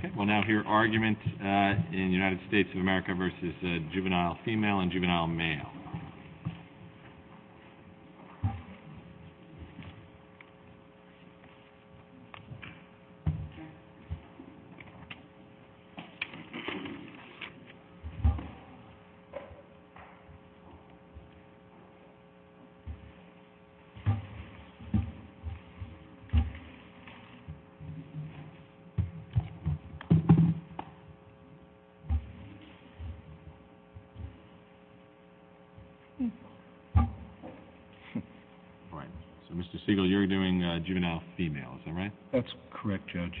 Okay, we'll now hear argument in the United States of America v. Juvenile Female and Juvenile Male. All right, so Mr. Siegel, you're doing Juvenile Female, is that right? That's correct, Judge.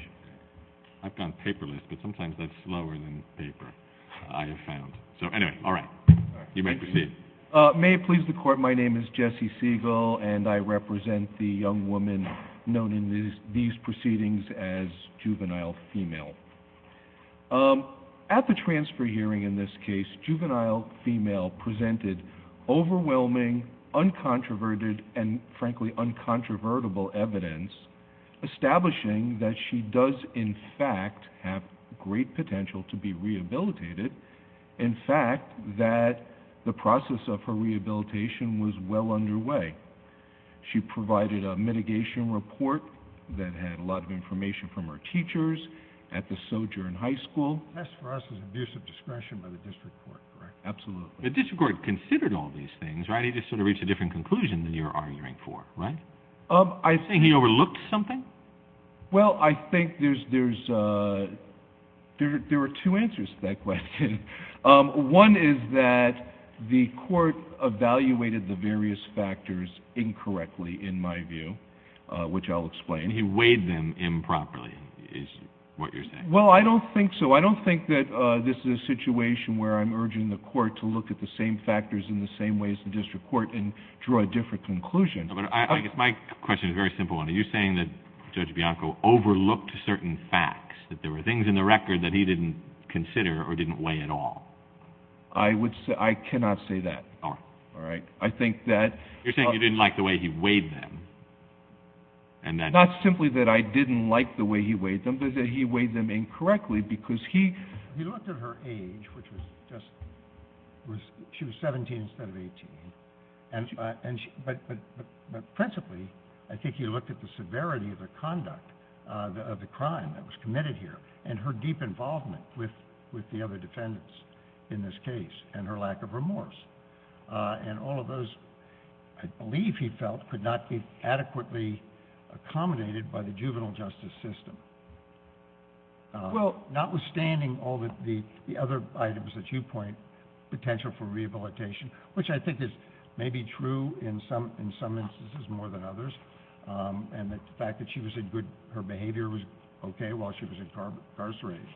I've gone paperless, but sometimes that's slower than paper, I have found. So anyway, all right, you may proceed. May it please the Court, my name is Jesse Siegel, and I represent the young woman known in these proceedings as Juvenile Female. At the transfer hearing in this case, Juvenile Female presented overwhelming, uncontroverted, and frankly uncontrovertible evidence establishing that she does in fact have great potential to be rehabilitated, in fact that the process of her rehabilitation was well underway. She provided a mitigation report that had a lot of information from her teachers at the Sojourn High School. That's for us an abuse of discretion by the District Court, correct? Absolutely. The District Court considered all these things, right? He just sort of reached a different conclusion than you're arguing for, right? I think he overlooked something. Well, I think there's, there are two answers to that question. One is that the Court evaluated the various factors incorrectly, in my view, which I'll explain. He weighed them improperly, is what you're saying. Well, I don't think so. I don't think that this is a situation where I'm urging the Court to look at the same factors in the same way as the District Court and draw a different conclusion. My question is a very simple one. Are you saying that Judge Bianco overlooked certain facts, that there were things in the record that he didn't consider or didn't weigh at all? I cannot say that. All right. I think that... You're saying you didn't like the way he weighed them. Not simply that I didn't like the way he weighed them, but that he weighed them incorrectly because he... He looked at her age, which was just, she was 17 instead of 18, but principally, I think he looked at the severity of the conduct, of the crime that was committed here, and her deep involvement with the other defendants in this case, and her lack of remorse. And all of those, I believe he felt, could not be adequately accommodated by the juvenile justice system. Well, notwithstanding all the other items that you point, potential for rehabilitation, which I think is maybe true in some instances more than others, and the fact that she was in good, her behavior was okay while she was incarcerated,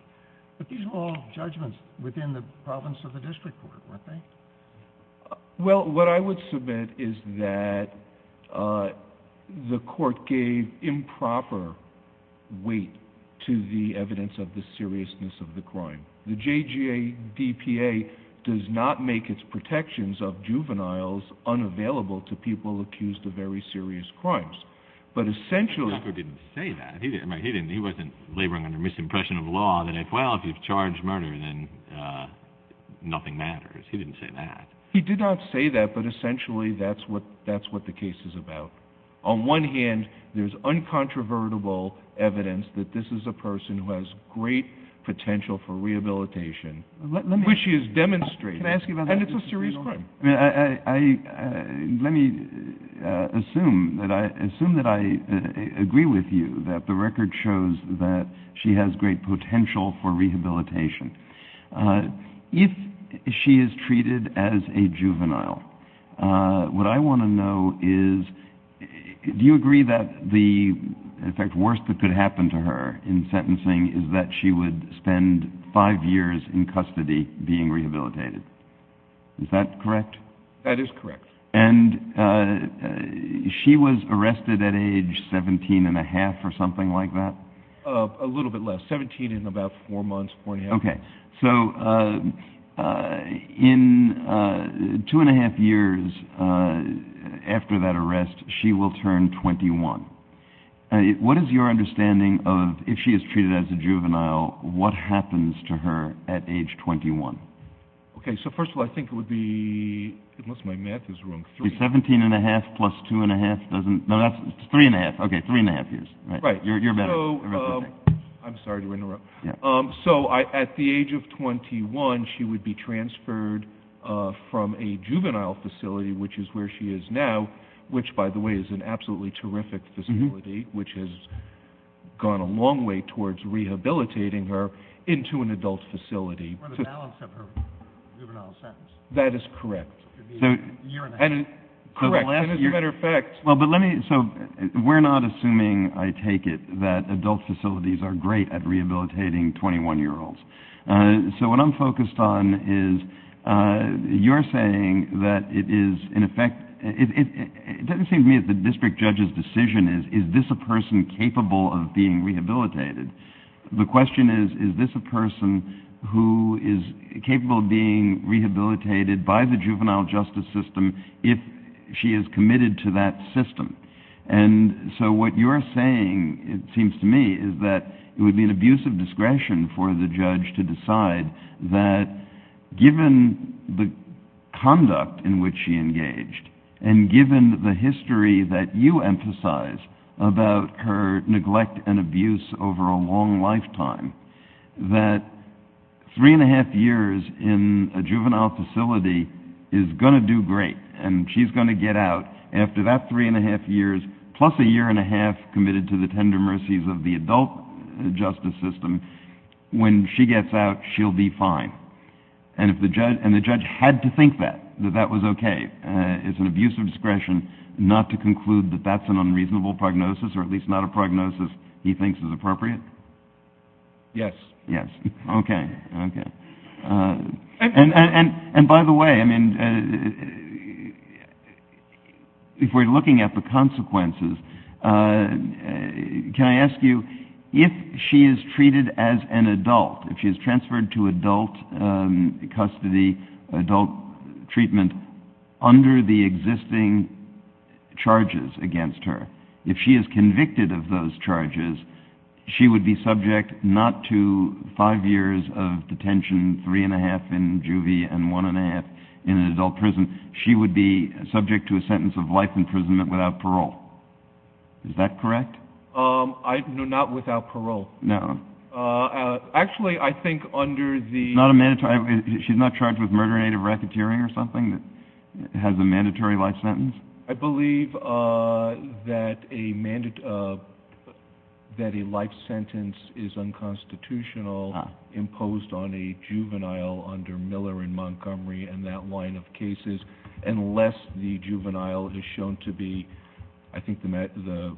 but these were all judgments within the province of the District Court, weren't they? Well, what I would submit is that the court gave improper weight to the evidence of the seriousness of the crime. The JGADPA does not make its protections of juveniles unavailable to people accused of very serious crimes. But essentially... Well, if you've charged murder, then nothing matters. He didn't say that. He did not say that, but essentially that's what the case is about. On one hand, there's uncontrovertible evidence that this is a person who has great potential for rehabilitation, which she has demonstrated, and it's a serious crime. Let me assume that I agree with you that the record shows that she has great potential for rehabilitation. If she is treated as a juvenile, what I want to know is, do you agree that the worst that could happen to her in sentencing is that she would spend five years in custody being rehabilitated? Is that correct? That is correct. And she was arrested at age 17 and a half or something like that? A little bit less. 17 and about four months, four and a half. Okay. So in two and a half years after that arrest, she will turn 21. What is your understanding of, if she is treated as a juvenile, what happens to her at age 21? Okay, so first of all, I think it would be, unless my math is wrong, three. 17 and a half plus two and a half doesn't, no, that's three and a half. Okay, three and a half years. Right. You're better. I'm sorry to interrupt. So at the age of 21, she would be transferred from a juvenile facility, which is where she is now, which, by the way, is an absolutely terrific facility, which has gone a long way towards rehabilitating her, into an adult facility. Or the balance of her juvenile sentence. That is correct. It would be a year and a half. Correct. As a matter of fact. So we're not assuming, I take it, that adult facilities are great at rehabilitating 21-year-olds. So what I'm focused on is you're saying that it is, in effect, it doesn't seem to me that the district judge's decision is, is this a person capable of being rehabilitated? The question is, is this a person who is capable of being rehabilitated by the juvenile justice system if she is committed to that system? And so what you're saying, it seems to me, is that it would be an abuse of discretion for the judge to decide that, given the conduct in which she engaged, and given the history that you emphasize about her neglect and abuse over a long lifetime, that three and a half years in a juvenile facility is going to do great, and she's going to get out after that three and a half years, plus a year and a half committed to the tender mercies of the adult justice system, when she gets out, she'll be fine. And if the judge had to think that, that that was okay, it's an abuse of discretion not to conclude that that's an unreasonable prognosis, or at least not a prognosis he thinks is appropriate? Yes. Yes. Okay. Okay. And by the way, I mean, if we're looking at the consequences, can I ask you, if she is treated as an adult, if she is transferred to adult custody, adult treatment, under the existing charges against her, if she is convicted of those charges, she would be subject not to five years of detention, three and a half in juvie, and one and a half in an adult prison, she would be subject to a sentence of life imprisonment without parole. Is that correct? No, not without parole. No. Actually, I think under the... She's not charged with murder, native racketeering or something that has a mandatory life sentence? I believe that a life sentence is unconstitutional imposed on a juvenile under Miller and Montgomery and that line of cases, unless the juvenile is shown to be, I think the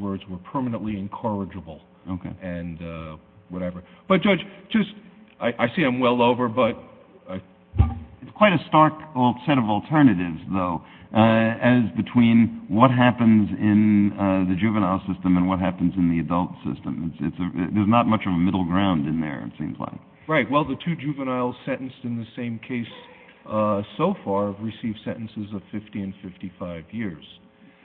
words were permanently incorrigible. Okay. And whatever. But, Judge, just, I see I'm well over, but... It's quite a stark set of alternatives, though, as between what happens in the juvenile system and what happens in the adult system. There's not much of a middle ground in there, it seems like. Right. Well, the two juveniles sentenced in the same case so far have received sentences of 50 and 55 years.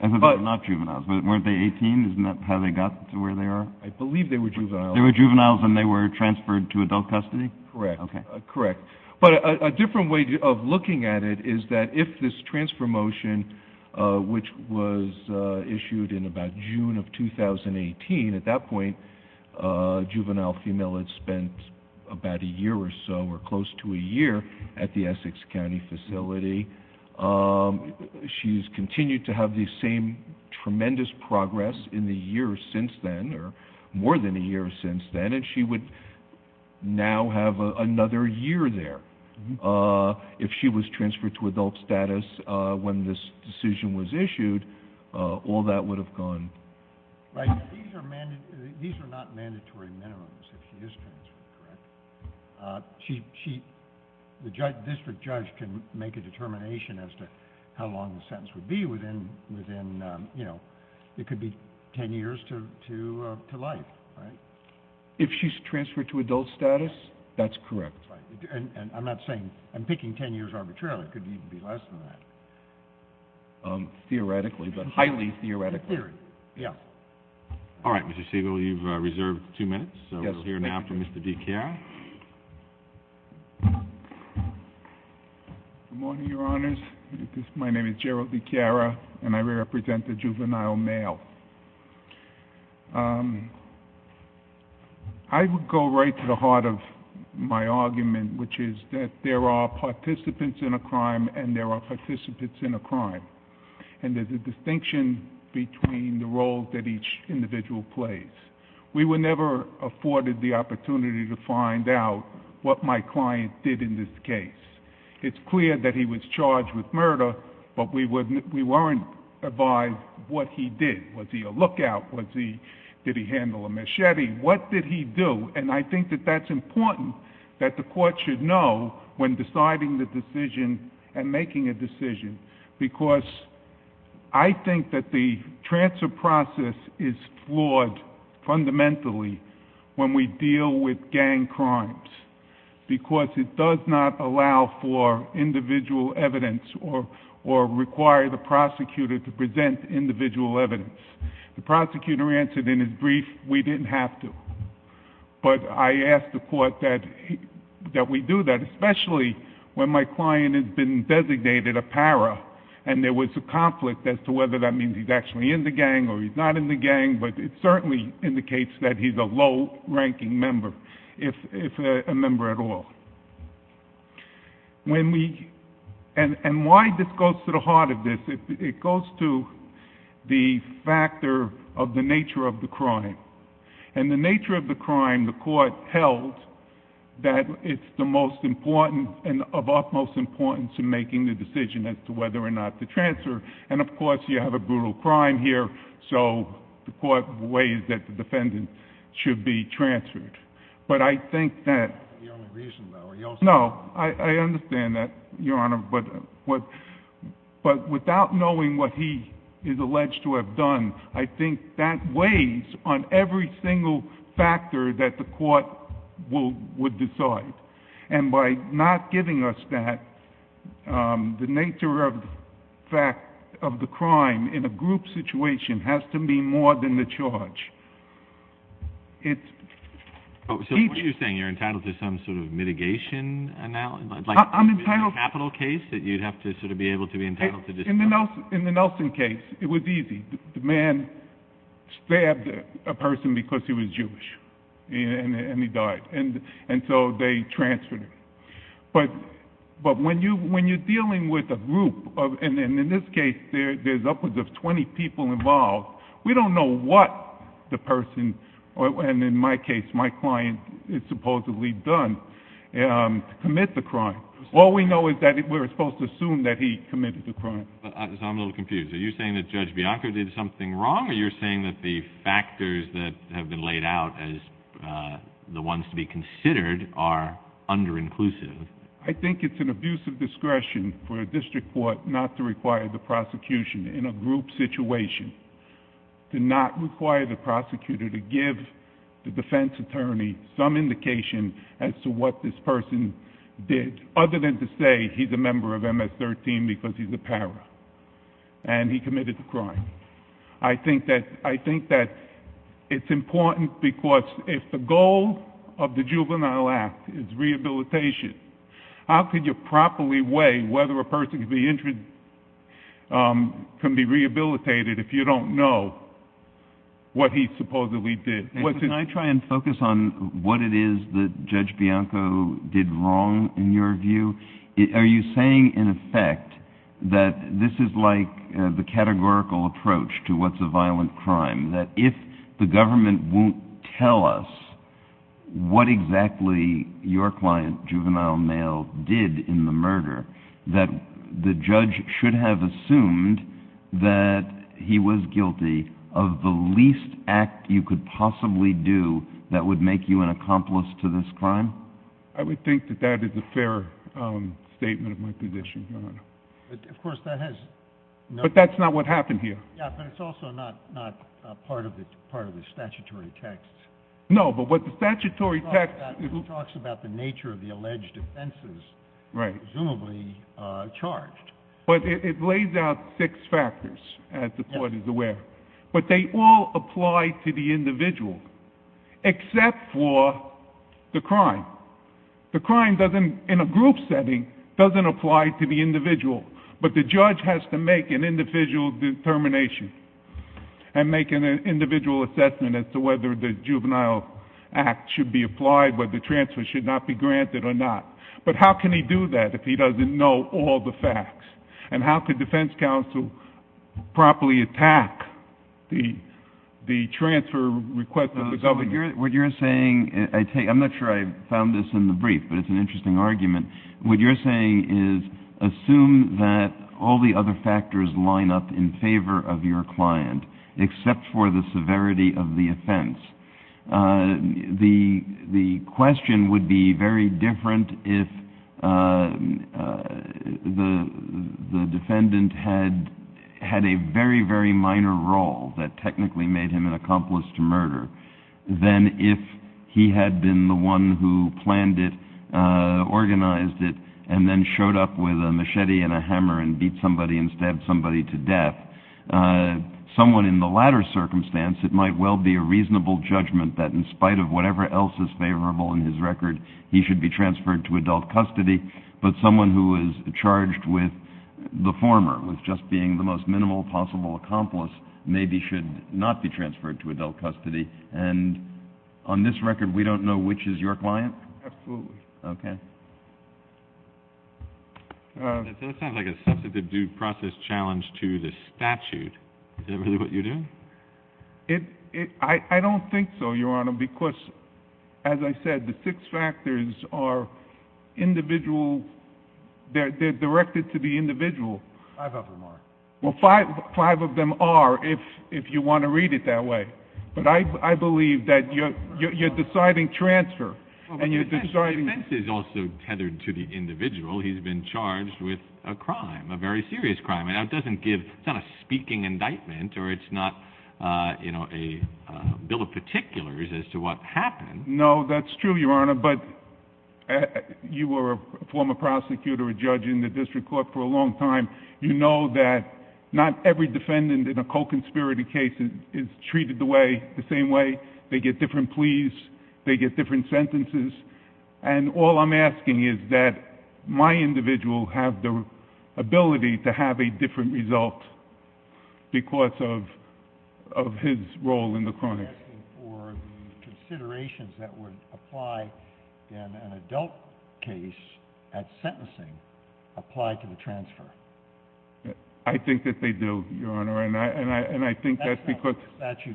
I thought they were not juveniles. Weren't they 18? Isn't that how they got to where they are? I believe they were juveniles. They were juveniles and they were transferred to adult custody? Correct. Okay. Correct. But a different way of looking at it is that if this transfer motion, which was issued in about June of 2018, at that point, a juvenile female had spent about a year or so, or close to a year, at the Essex County facility. She's continued to have the same tremendous progress in the years since then, or more than a year since then, she would now have another year there. If she was transferred to adult status when this decision was issued, all that would have gone. Right. These are not mandatory minimums if she is transferred, correct? The district judge can make a determination as to how long the sentence would be within, you know, it could be ten years to life, right? If she's transferred to adult status, that's correct. Right. And I'm not saying, I'm picking ten years arbitrarily. It could even be less than that. Theoretically, but highly theoretically. In theory. Yeah. All right, Mr. Siegel, you've reserved two minutes, so we'll hear now from Mr. DiChiara. Good morning, Your Honors. My name is Gerald DiChiara, and I represent the juvenile mail. I would go right to the heart of my argument, which is that there are participants in a crime, and there are participants in a crime. And there's a distinction between the roles that each individual plays. We were never afforded the opportunity to find out what my client did in this case. It's clear that he was charged with murder, but we weren't advised what he did. Was he a lookout? Did he handle a machete? What did he do? And I think that that's important that the court should know when deciding the decision and making a decision. Because I think that the transfer process is flawed fundamentally when we deal with gang crimes. Because it does not allow for individual evidence or require the prosecutor to present individual evidence. The prosecutor answered in his brief, we didn't have to. But I ask the court that we do that, especially when my client has been designated a para, and there was a conflict as to whether that means he's actually in the gang or he's not in the gang. But it certainly indicates that he's a low-ranking member. If a member at all. And why this goes to the heart of this, it goes to the factor of the nature of the crime. And the nature of the crime, the court held that it's the most important and of utmost importance in making the decision as to whether or not to transfer. And, of course, you have a brutal crime here. So the court weighs that the defendant should be transferred. But I think that— Your only reason, though, are you also— No, I understand that, Your Honor. But without knowing what he is alleged to have done, I think that weighs on every single factor that the court would decide. And by not giving us that, the nature of the crime in a group situation has to be more than the charge. It's— So what you're saying, you're entitled to some sort of mitigation analysis? I'm entitled— Like in a capital case that you'd have to sort of be able to be entitled to— In the Nelson case, it was easy. The man stabbed a person because he was Jewish, and he died. And so they transferred him. But when you're dealing with a group, and in this case, there's upwards of 20 people involved, we don't know what the person—and in my case, my client is supposedly done—commit the crime. All we know is that we're supposed to assume that he committed the crime. So I'm a little confused. Are you saying that Judge Bianco did something wrong, or are you saying that the factors that have been laid out as the ones to be considered are under-inclusive? I think it's an abuse of discretion for a district court not to require the prosecution in a group situation, to not require the prosecutor to give the defense attorney some indication as to what this person did, other than to say he's a member of MS-13 because he's a para and he committed the crime. I think that it's important because if the goal of the Juvenile Act is rehabilitation, how could you properly weigh whether a person can be rehabilitated if you don't know what he supposedly did? Can I try and focus on what it is that Judge Bianco did wrong, in your view? Are you saying, in effect, that this is like the categorical approach to what's a violent crime, that if the government won't tell us what exactly your client, Juvenile Nail, did in the murder, that the judge should have assumed that he was guilty of the least act you could possibly do that would make you an accomplice to this crime? I would think that that is a fair statement of my position, Your Honor. But, of course, that has no— But that's not what happened here. Yeah, but it's also not part of the statutory text. No, but what the statutory text— It talks about the nature of the alleged offenses— Right. —presumably charged. But it lays out six factors, as the court is aware. But they all apply to the individual, except for the crime. The crime, in a group setting, doesn't apply to the individual. But the judge has to make an individual determination and make an individual assessment as to whether the Juvenile Act should be applied, whether transfer should not be granted or not. But how can he do that if he doesn't know all the facts? And how could defense counsel properly attack the transfer request of the government? What you're saying—I'm not sure I found this in the brief, but it's an interesting argument. What you're saying is, assume that all the other factors line up in favor of your client, except for the severity of the offense. The question would be very different if the defendant had a very, very minor role that technically made him an accomplice to murder than if he had been the one who planned it, organized it, and then showed up with a machete and a hammer and beat somebody and stabbed somebody to death. Someone in the latter circumstance, it might well be a reasonable judgment that in spite of whatever else is favorable in his record, he should be transferred to adult custody. But someone who is charged with the former, with just being the most minimal possible accomplice, maybe should not be transferred to adult custody. And on this record, we don't know which is your client? Absolutely. Okay. That sounds like a substantive due process challenge to the statute. Is that really what you're doing? I don't think so, Your Honor, because, as I said, the six factors are individual— they're directed to the individual. Five of them are. Well, five of them are, if you want to read it that way. But I believe that you're deciding transfer, and you're deciding— The defense is also tethered to the individual. He's been charged with a crime, a very serious crime. It doesn't give—it's not a speaking indictment, or it's not a bill of particulars as to what happened. No, that's true, Your Honor, but you were a former prosecutor, a judge in the district court for a long time. You know that not every defendant in a co-conspirator case is treated the same way. They get different pleas. They get different sentences. And all I'm asking is that my individual have the ability to have a different result because of his role in the crime. You're asking for the considerations that would apply in an adult case at sentencing apply to the transfer. I think that they do, Your Honor, and I think that's because— But the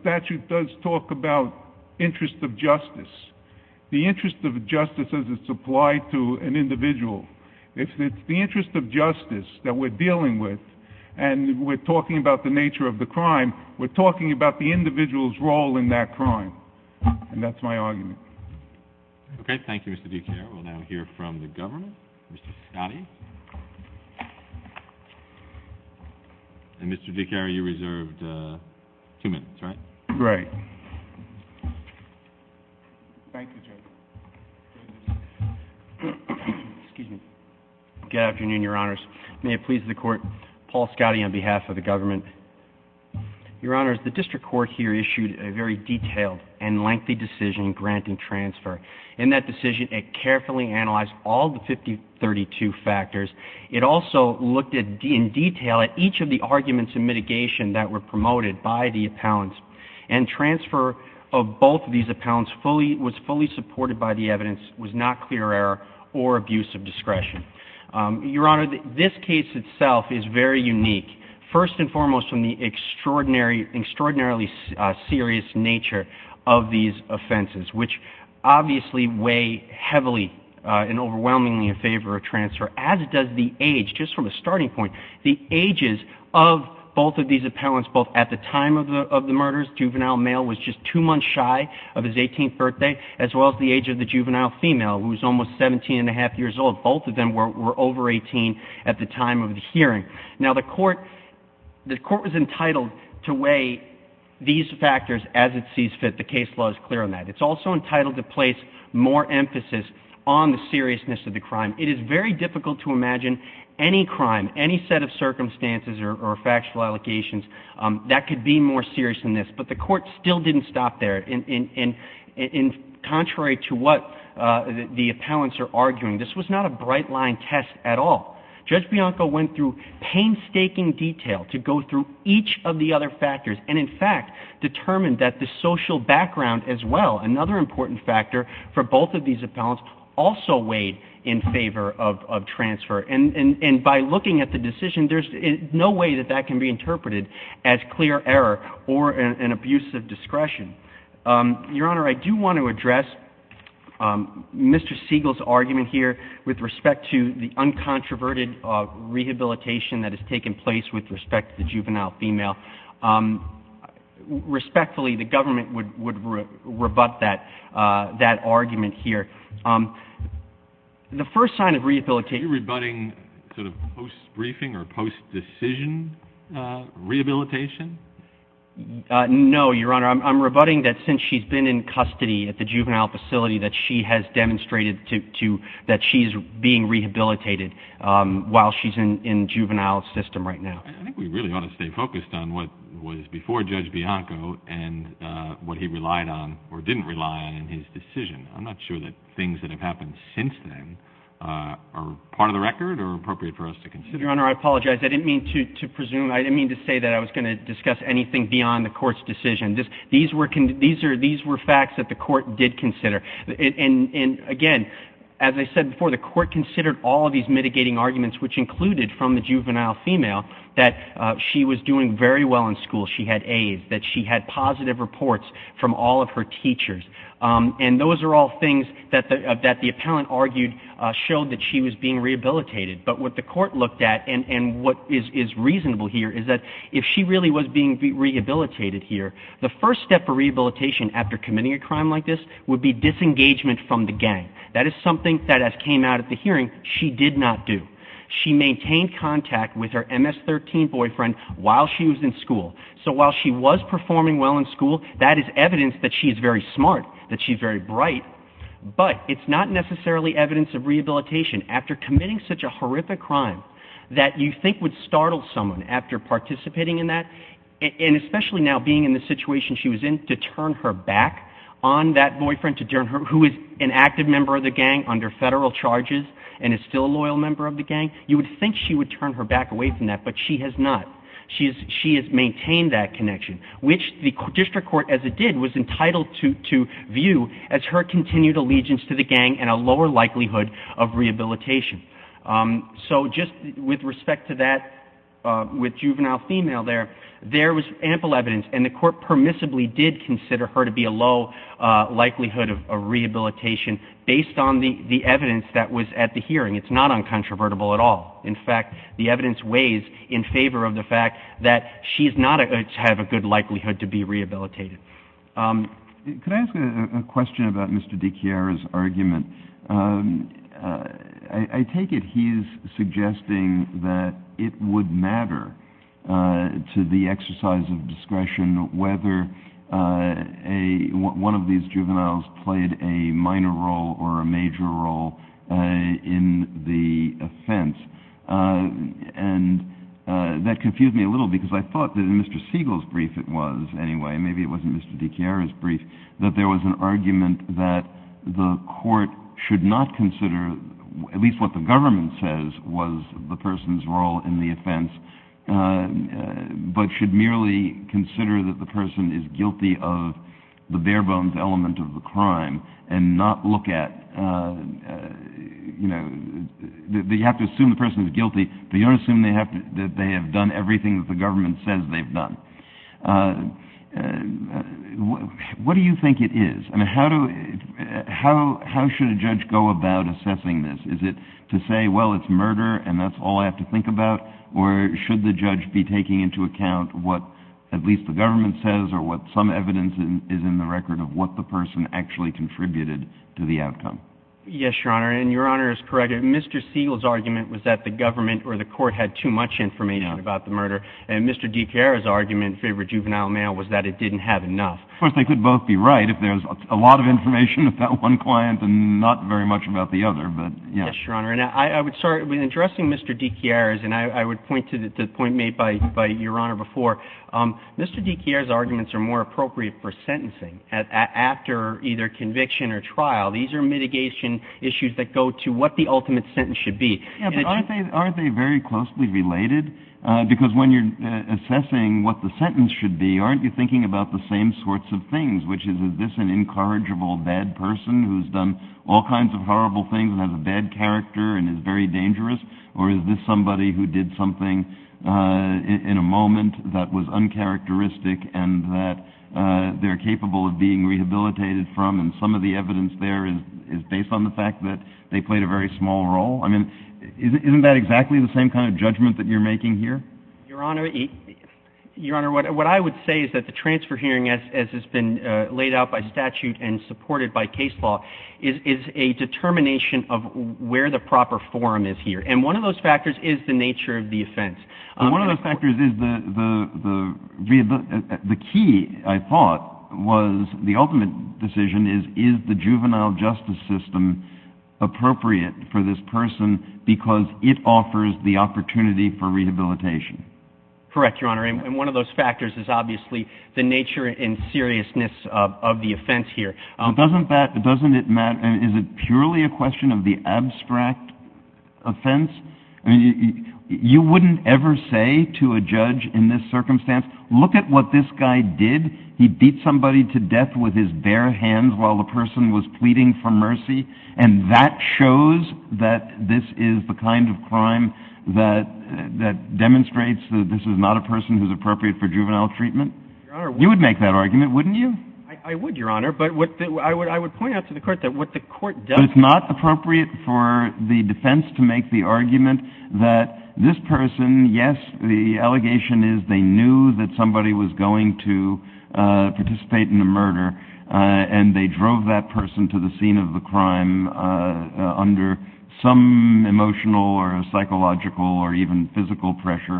statute does talk about interest of justice, the interest of justice as it's applied to an individual. If it's the interest of justice that we're dealing with, and we're talking about the nature of the crime, we're talking about the individual's role in that crime, and that's my argument. Okay, thank you, Mr. Dicari. We'll now hear from the government. Mr. Scotti. And, Mr. Dicari, you reserved two minutes, right? Right. Thank you, Judge. Excuse me. Good afternoon, Your Honors. May it please the Court, Paul Scotti on behalf of the government. Your Honors, the district court here issued a very detailed and lengthy decision granting transfer. In that decision, it carefully analyzed all the 5032 factors. It also looked in detail at each of the arguments in mitigation that were promoted by the appellants, and transfer of both of these appellants was fully supported by the evidence, was not clear error or abuse of discretion. Your Honor, this case itself is very unique, first and foremost, from the extraordinarily serious nature of these offenses, which obviously weigh heavily and overwhelmingly in favor of transfer, as does the age, just from a starting point. The ages of both of these appellants, both at the time of the murders, juvenile male was just two months shy of his 18th birthday, as well as the age of the juvenile female, who was almost 17 and a half years old. Both of them were over 18 at the time of the hearing. Now, the Court was entitled to weigh these factors as it sees fit. The case law is clear on that. It's also entitled to place more emphasis on the seriousness of the crime. It is very difficult to imagine any crime, any set of circumstances or factual allegations, that could be more serious than this. But the Court still didn't stop there. Contrary to what the appellants are arguing, this was not a bright-line test at all. Judge Bianco went through painstaking detail to go through each of the other factors and, in fact, determined that the social background as well, another important factor for both of these appellants, also weighed in favor of transfer. And by looking at the decision, there's no way that that can be interpreted as clear error or an abuse of discretion. Your Honor, I do want to address Mr. Siegel's argument here with respect to the uncontroverted rehabilitation that has taken place with respect to the juvenile female. Respectfully, the government would rebut that argument here. The first sign of rehabilitation Are you rebutting sort of post-briefing or post-decision rehabilitation? No, Your Honor. I'm rebutting that since she's been in custody at the juvenile facility, that she has demonstrated that she's being rehabilitated while she's in juvenile system right now. I think we really ought to stay focused on what was before Judge Bianco and what he relied on or didn't rely on in his decision. I'm not sure that things that have happened since then are part of the record or appropriate for us to consider. Your Honor, I apologize. I didn't mean to presume. I didn't mean to say that I was going to discuss anything beyond the Court's decision. These were facts that the Court did consider. And again, as I said before, the Court considered all of these mitigating arguments, which included from the juvenile female that she was doing very well in school, she had AIDS, that she had positive reports from all of her teachers. And those are all things that the appellant argued showed that she was being rehabilitated. But what the Court looked at and what is reasonable here is that if she really was being rehabilitated here, the first step for rehabilitation after committing a crime like this would be disengagement from the gang. That is something that, as came out at the hearing, she did not do. She maintained contact with her MS-13 boyfriend while she was in school. So while she was performing well in school, that is evidence that she's very smart, that she's very bright. But it's not necessarily evidence of rehabilitation after committing such a horrific crime that you think would startle someone after participating in that and especially now being in the situation she was in to turn her back on that boyfriend who is an active member of the gang under federal charges and is still a loyal member of the gang. You would think she would turn her back away from that, but she has not. She has maintained that connection, which the District Court, as it did, was entitled to view as her continued allegiance to the gang and a lower likelihood of rehabilitation. So just with respect to that, with juvenile female there, there was ample evidence, and the Court permissibly did consider her to be a low likelihood of rehabilitation based on the evidence that was at the hearing. It's not uncontrovertible at all. In fact, the evidence weighs in favor of the fact that she does not have a good likelihood to be rehabilitated. Could I ask a question about Mr. DiChiara's argument? I take it he's suggesting that it would matter to the exercise of discretion whether one of these juveniles played a minor role or a major role in the offense. And that confused me a little because I thought that in Mr. Siegel's brief it was anyway. Maybe it wasn't Mr. DiChiara's brief, that there was an argument that the Court should not consider at least what the government says was the person's role in the offense, but should merely consider that the person is guilty of the bare-bones element of the crime and not look at, you know, you have to assume the person is guilty, but you don't assume that they have done everything that the government says they've done. What do you think it is? I mean, how should a judge go about assessing this? Is it to say, well, it's murder and that's all I have to think about, or should the judge be taking into account what at least the government says or what some evidence is in the record of what the person actually contributed to the outcome? Yes, Your Honor, and Your Honor is correct. Mr. Siegel's argument was that the government or the Court had too much information about the murder, and Mr. DiChiara's argument in favor of juvenile mail was that it didn't have enough. Of course, they could both be right if there's a lot of information about one client and not very much about the other, but yes. Yes, Your Honor, and I would start with addressing Mr. DiChiara's, and I would point to the point made by Your Honor before. Mr. DiChiara's arguments are more appropriate for sentencing after either conviction or trial. These are mitigation issues that go to what the ultimate sentence should be. Aren't they very closely related? Because when you're assessing what the sentence should be, aren't you thinking about the same sorts of things, which is is this an incorrigible bad person who's done all kinds of horrible things and has a bad character and is very dangerous, or is this somebody who did something in a moment that was uncharacteristic and that they're capable of being rehabilitated from, and some of the evidence there is based on the fact that they played a very small role? I mean, isn't that exactly the same kind of judgment that you're making here? Your Honor, what I would say is that the transfer hearing, as has been laid out by statute and supported by case law, is a determination of where the proper forum is here, One of the factors is the key, I thought, was the ultimate decision is is the juvenile justice system appropriate for this person because it offers the opportunity for rehabilitation? Correct, Your Honor. And one of those factors is obviously the nature and seriousness of the offense here. Doesn't it matter? Is it purely a question of the abstract offense? You wouldn't ever say to a judge in this circumstance, Look at what this guy did. He beat somebody to death with his bare hands while the person was pleading for mercy, and that shows that this is the kind of crime that demonstrates that this is not a person who's appropriate for juvenile treatment? You would make that argument, wouldn't you? I would, Your Honor, but I would point out to the court that what the court does But it's not appropriate for the defense to make the argument that this person, yes, the allegation is they knew that somebody was going to participate in a murder and they drove that person to the scene of the crime under some emotional or psychological or even physical pressure,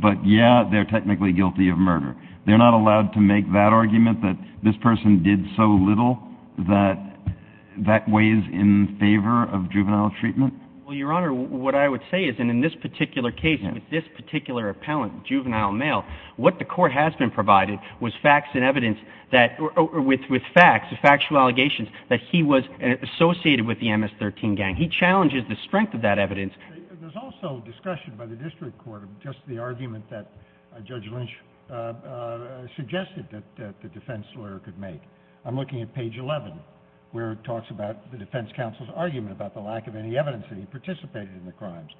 but, yeah, they're technically guilty of murder. They're not allowed to make that argument that this person did so little that that weighs in favor of juvenile treatment? Well, Your Honor, what I would say is, and in this particular case, with this particular appellant, juvenile male, what the court has been provided with facts and evidence that, with facts, factual allegations, that he was associated with the MS-13 gang. He challenges the strength of that evidence. There's also discussion by the district court of just the argument that Judge Lynch suggested that the defense lawyer could make. I'm looking at page 11 where it talks about the defense counsel's argument about the lack of any evidence that he participated in the crimes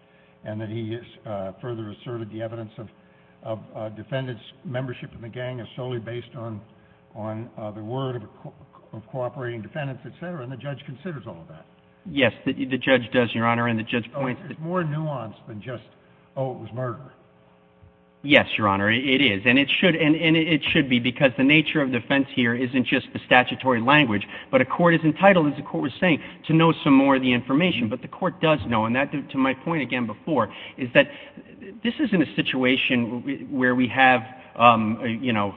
and that he further asserted the evidence of defendants' membership in the gang is solely based on the word of cooperating defendants, et cetera, and the judge considers all of that. Yes, the judge does, Your Honor, and the judge points that Oh, it's more nuanced than just, oh, it was murder. Yes, Your Honor, it is, and it should be because the nature of defense here isn't just the statutory language, but a court is entitled, as the court was saying, to know some more of the information. But the court does know, and to my point again before, is that this isn't a situation where we have, you know,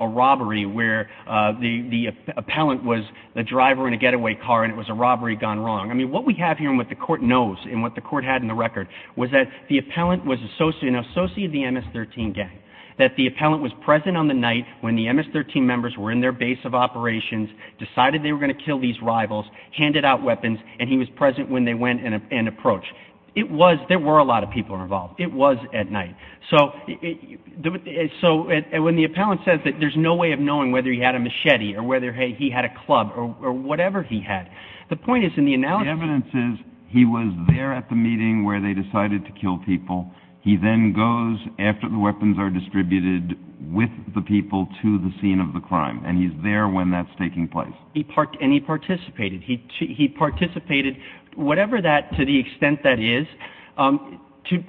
a robbery where the appellant was the driver in a getaway car and it was a robbery gone wrong. I mean, what we have here and what the court knows and what the court had in the record was that the appellant was an associate of the MS-13 gang, that the appellant was present on the night when the MS-13 members were in their base of operations, decided they were going to kill these rivals, handed out weapons, and he was present when they went and approached. There were a lot of people involved. It was at night. So when the appellant says that there's no way of knowing whether he had a machete or whether, hey, he had a club or whatever he had, the point is in the analogy The evidence is he was there at the meeting where they decided to kill people. He then goes after the weapons are distributed with the people to the scene of the crime. And he's there when that's taking place. And he participated. He participated, whatever that, to the extent that is,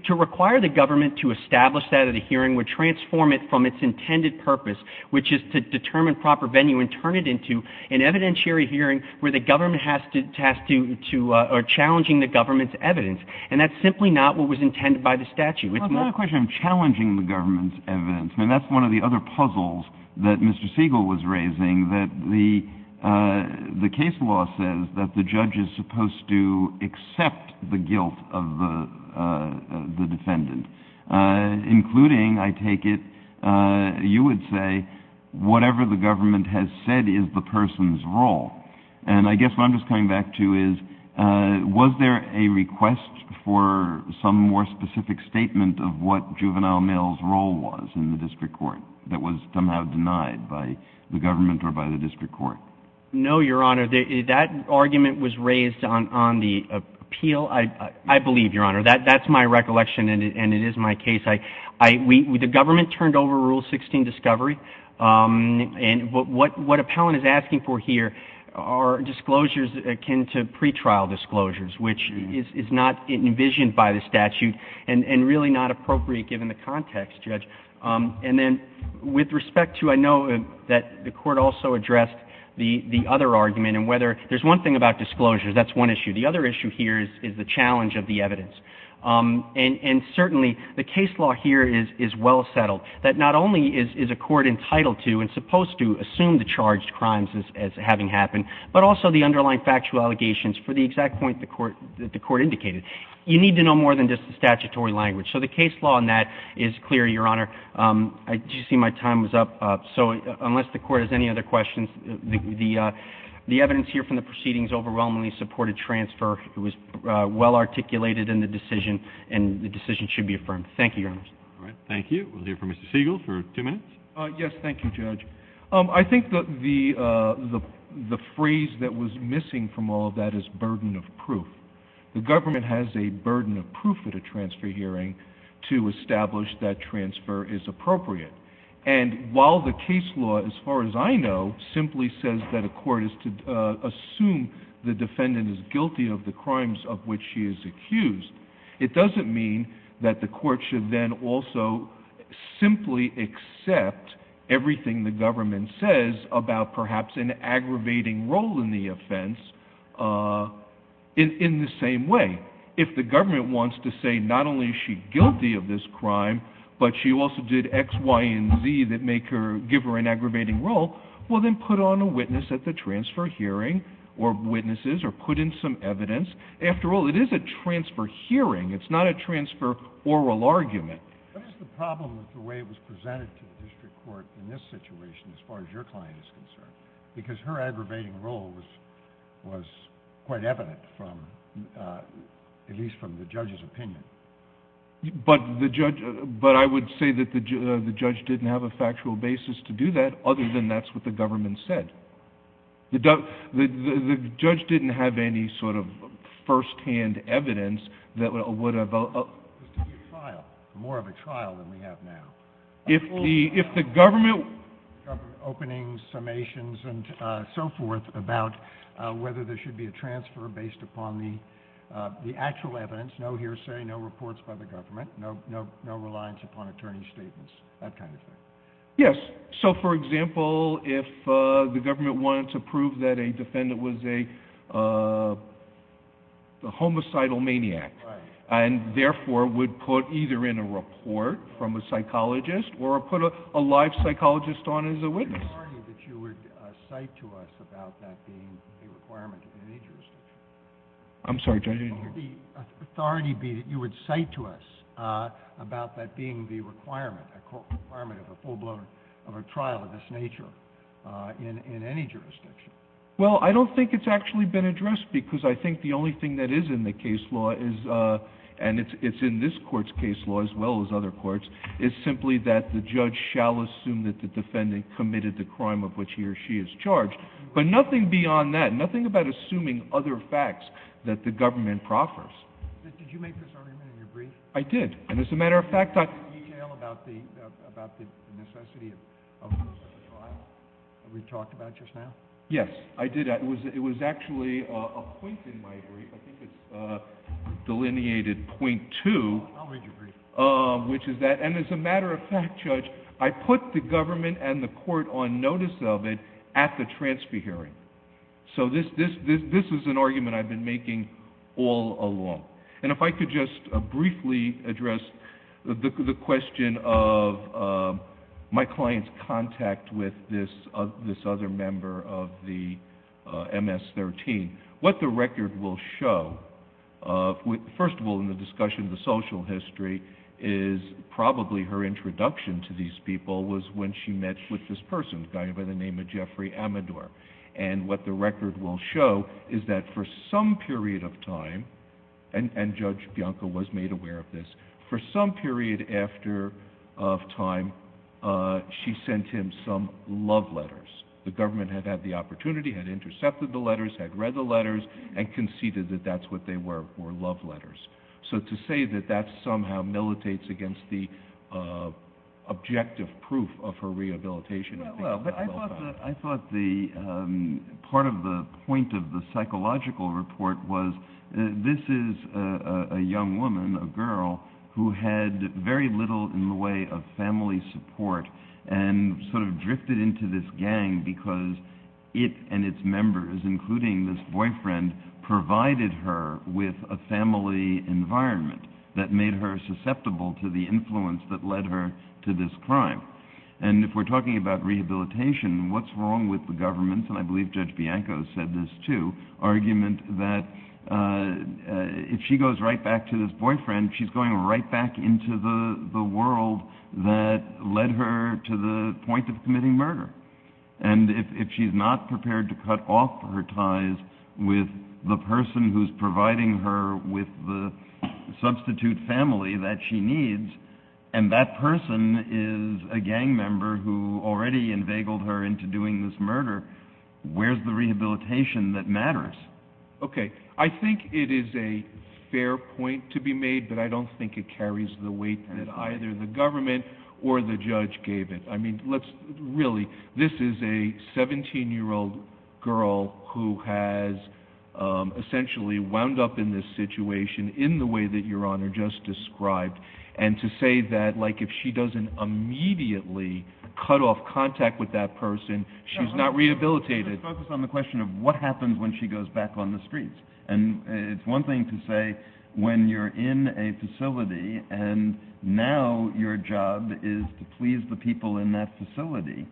to require the government to establish that at a hearing would transform it from its intended purpose, which is to determine proper venue and turn it into an evidentiary hearing where the government has to, or challenging the government's evidence. And that's simply not what was intended by the statute. It's not a question of challenging the government's evidence. I mean, that's one of the other puzzles that Mr. Siegel was raising, that the case law says that the judge is supposed to accept the guilt of the defendant, including, I take it, you would say, whatever the government has said is the person's role. And I guess what I'm just coming back to is, was there a request for some more specific statement of what Juvenile Mill's role was in the district court that was somehow denied by the government or by the district court? No, Your Honor. That argument was raised on the appeal, I believe, Your Honor. That's my recollection, and it is my case. The government turned over Rule 16, Discovery. And what Appellant is asking for here are disclosures akin to pretrial disclosures, which is not envisioned by the statute and really not appropriate given the context, Judge. And then with respect to, I know that the Court also addressed the other argument, and whether there's one thing about disclosures, that's one issue. The other issue here is the challenge of the evidence. And certainly the case law here is well settled, that not only is a court entitled to and supposed to assume the charged crimes as having happened, but also the underlying factual allegations for the exact point that the court indicated. You need to know more than just the statutory language. So the case law on that is clear, Your Honor. Did you see my time was up? So unless the Court has any other questions, the evidence here from the proceedings overwhelmingly supported transfer. It was well articulated in the decision, and the decision should be affirmed. Thank you, Your Honor. All right, thank you. We'll hear from Mr. Siegel for two minutes. Yes, thank you, Judge. I think the phrase that was missing from all of that is burden of proof. The government has a burden of proof at a transfer hearing to establish that transfer is appropriate. And while the case law, as far as I know, simply says that a court is to assume the defendant is guilty of the crimes of which she is accused, it doesn't mean that the court should then also simply accept everything the government says about perhaps an aggravating role in the offense in the same way. If the government wants to say not only is she guilty of this crime, but she also did X, Y, and Z that give her an aggravating role, well then put on a witness at the transfer hearing, or witnesses, or put in some evidence. After all, it is a transfer hearing. It's not a transfer oral argument. What is the problem with the way it was presented to the district court in this situation, as far as your client is concerned? Because her aggravating role was quite evident, at least from the judge's opinion. But I would say that the judge didn't have a factual basis to do that, other than that's what the government said. The judge didn't have any sort of first-hand evidence that would have... More of a trial than we have now. If the government... Opening summations and so forth about whether there should be a transfer based upon the actual evidence, no hearsay, no reports by the government, no reliance upon attorney's statements, that kind of thing. Yes. So, for example, if the government wanted to prove that a defendant was a homicidal maniac, and therefore would put either in a report from a psychologist or put a live psychologist on as a witness. Would the authority that you would cite to us about that being a requirement of any jurisdiction? Well, I don't think it's actually been addressed, because I think the only thing that is in the case law, and it's in this Court's case law as well as other courts, is simply that the judge shall assume that the defendant committed the crime of which he or she is charged. But nothing beyond that. Nothing about assuming other facts that the government prophesied. Did you make this argument in your brief? I did. And as a matter of fact, I... Did you give any detail about the necessity of this trial that we talked about just now? Yes, I did. It was actually a point in my brief. I think it's delineated point two. I'll read your brief. Which is that, and as a matter of fact, Judge, I put the government and the Court on notice of it at the transfer hearing. So this is an argument I've been making all along. And if I could just briefly address the question of my client's contact with this other member of the MS-13. What the record will show, first of all, in the discussion of the social history, is probably her introduction to these people was when she met with this person, a guy by the name of Jeffrey Amador. And what the record will show is that for some period of time, and Judge Bianco was made aware of this, for some period after time, she sent him some love letters. The government had had the opportunity, had intercepted the letters, had read the letters, and conceded that that's what they were, were love letters. So to say that that somehow militates against the objective proof of her rehabilitation... Well, but I thought the, part of the point of the psychological report was, this is a young woman, a girl, who had very little in the way of family support and sort of drifted into this gang because it and its members, including this boyfriend, provided her with a family environment that made her susceptible to the influence that led her to this crime. And if we're talking about rehabilitation, what's wrong with the government, and I believe Judge Bianco said this too, argument that if she goes right back to this boyfriend, she's going right back into the world that led her to the point of committing murder. And if she's not prepared to cut off her ties with the person who's providing her with the substitute family that she needs, and that person is a gang member who already inveigled her into doing this murder, where's the rehabilitation that matters? Okay. I think it is a fair point to be made, but I don't think it carries the weight that either the government or the judge gave it. Really, this is a 17-year-old girl who has essentially wound up in this situation in the way that Your Honor just described, and to say that if she doesn't immediately cut off contact with that person, she's not rehabilitated. Let's focus on the question of what happens when she goes back on the streets. And it's one thing to say when you're in a facility and now your job is to please the people in that facility.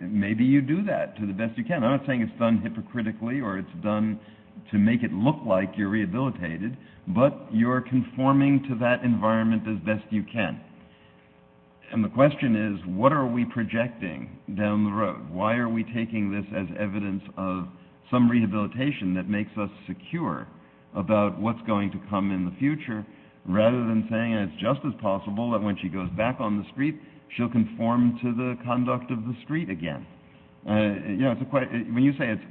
Maybe you do that to the best you can. I'm not saying it's done hypocritically or it's done to make it look like you're rehabilitated, but you're conforming to that environment as best you can. And the question is, what are we projecting down the road? Why are we taking this as evidence of some rehabilitation that makes us secure about what's going to come in the future, rather than saying it's just as possible that when she goes back on the street, she'll conform to the conduct of the street again? When you say it's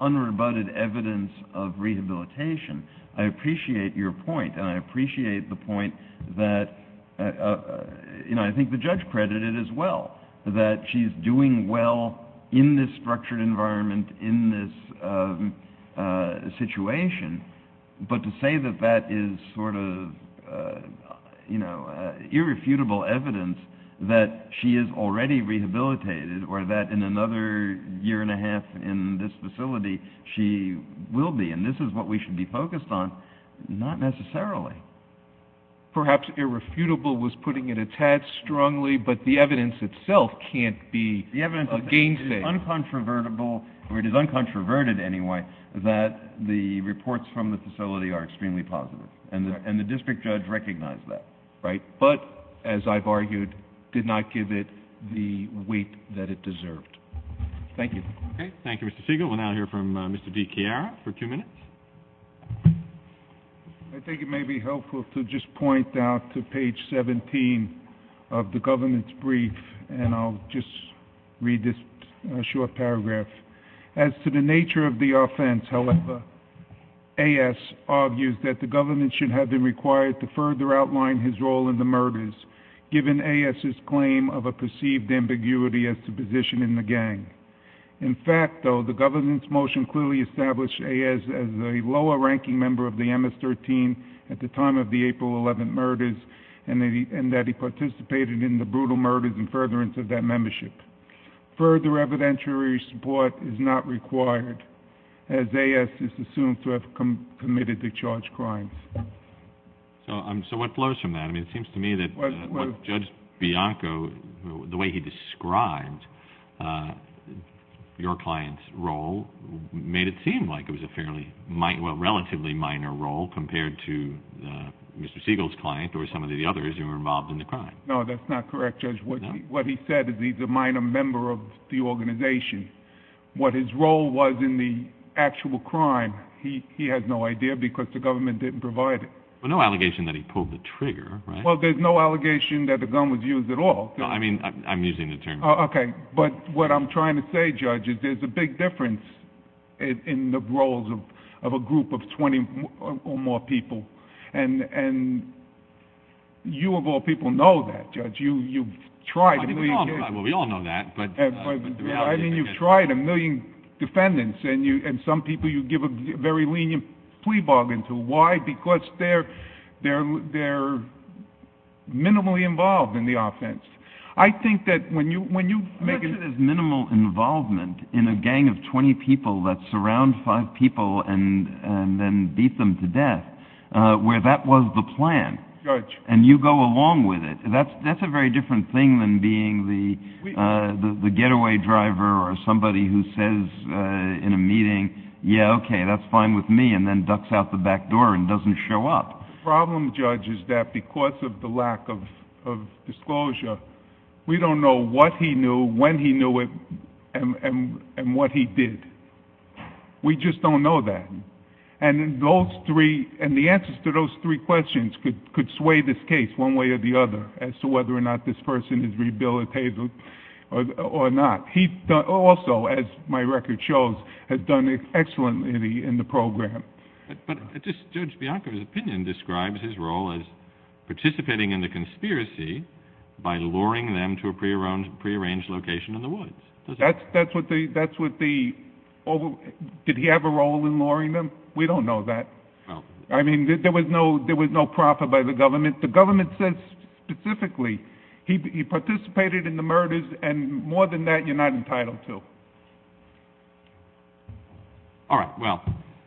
unrebutted evidence of rehabilitation, I appreciate your point, and I appreciate the point that I think the judge credited as well, that she's doing well in this structured environment, in this situation. But to say that that is sort of irrefutable evidence that she is already rehabilitated or that in another year and a half in this facility, she will be, and this is what we should be focused on, not necessarily. Perhaps irrefutable was putting it a tad strongly, but the evidence itself can't be a gainsaver. The evidence is uncontrovertible, or it is uncontroverted anyway, that the reports from the facility are extremely positive, and the district judge recognized that. But, as I've argued, did not give it the weight that it deserved. Thank you. Okay. Thank you, Mr. Siegel. We'll now hear from Mr. DiChiara for two minutes. I think it may be helpful to just point out to page 17 of the government's brief, and I'll just read this short paragraph. As to the nature of the offense, however, AS argues that the government should have been required to further outline his role in the murders, given AS's claim of a perceived ambiguity as to position in the gang. In fact, though, the government's motion clearly established AS as a lower-ranking member of the MS-13 at the time of the April 11 murders, and that he participated in the brutal murders in furtherance of that membership. Further evidentiary support is not required, as AS is assumed to have committed the charged crimes. So what flows from that? I mean, it seems to me that Judge Bianco, the way he described your client's role, made it seem like it was a relatively minor role compared to Mr. Siegel's client or some of the others who were involved in the crime. No, that's not correct, Judge. What he said is he's a minor member of the organization. What his role was in the actual crime, he has no idea because the government didn't provide it. Well, no allegation that he pulled the trigger, right? Well, there's no allegation that the gun was used at all. No, I mean, I'm using the term. Okay, but what I'm trying to say, Judge, is there's a big difference in the roles of a group of 20 or more people, and you of all people know that, Judge. You've tried a million cases. Well, we all know that. I mean, you've tried a million defendants, and some people you give a very lenient plea bargain to. Why? Because they're minimally involved in the offense. I think that when you make it as minimal involvement in a gang of 20 people that surround five people and then beat them to death, where that was the plan, and you go along with it, that's a very different thing than being the getaway driver or somebody who says in a meeting, yeah, okay, that's fine with me, and then ducks out the back door and doesn't show up. The problem, Judge, is that because of the lack of disclosure, we don't know what he knew, when he knew it, and what he did. We just don't know that. And the answers to those three questions could sway this case one way or the other as to whether or not this person is rehabilitated or not. He also, as my record shows, has done excellently in the program. But Judge Bianco's opinion describes his role as participating in the conspiracy by luring them to a prearranged location in the woods. Did he have a role in luring them? We don't know that. I mean, there was no profit by the government. But the government says specifically he participated in the murders, and more than that, you're not entitled to. All right, well,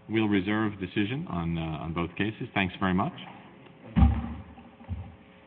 we'll reserve decision on both cases. Thanks very much.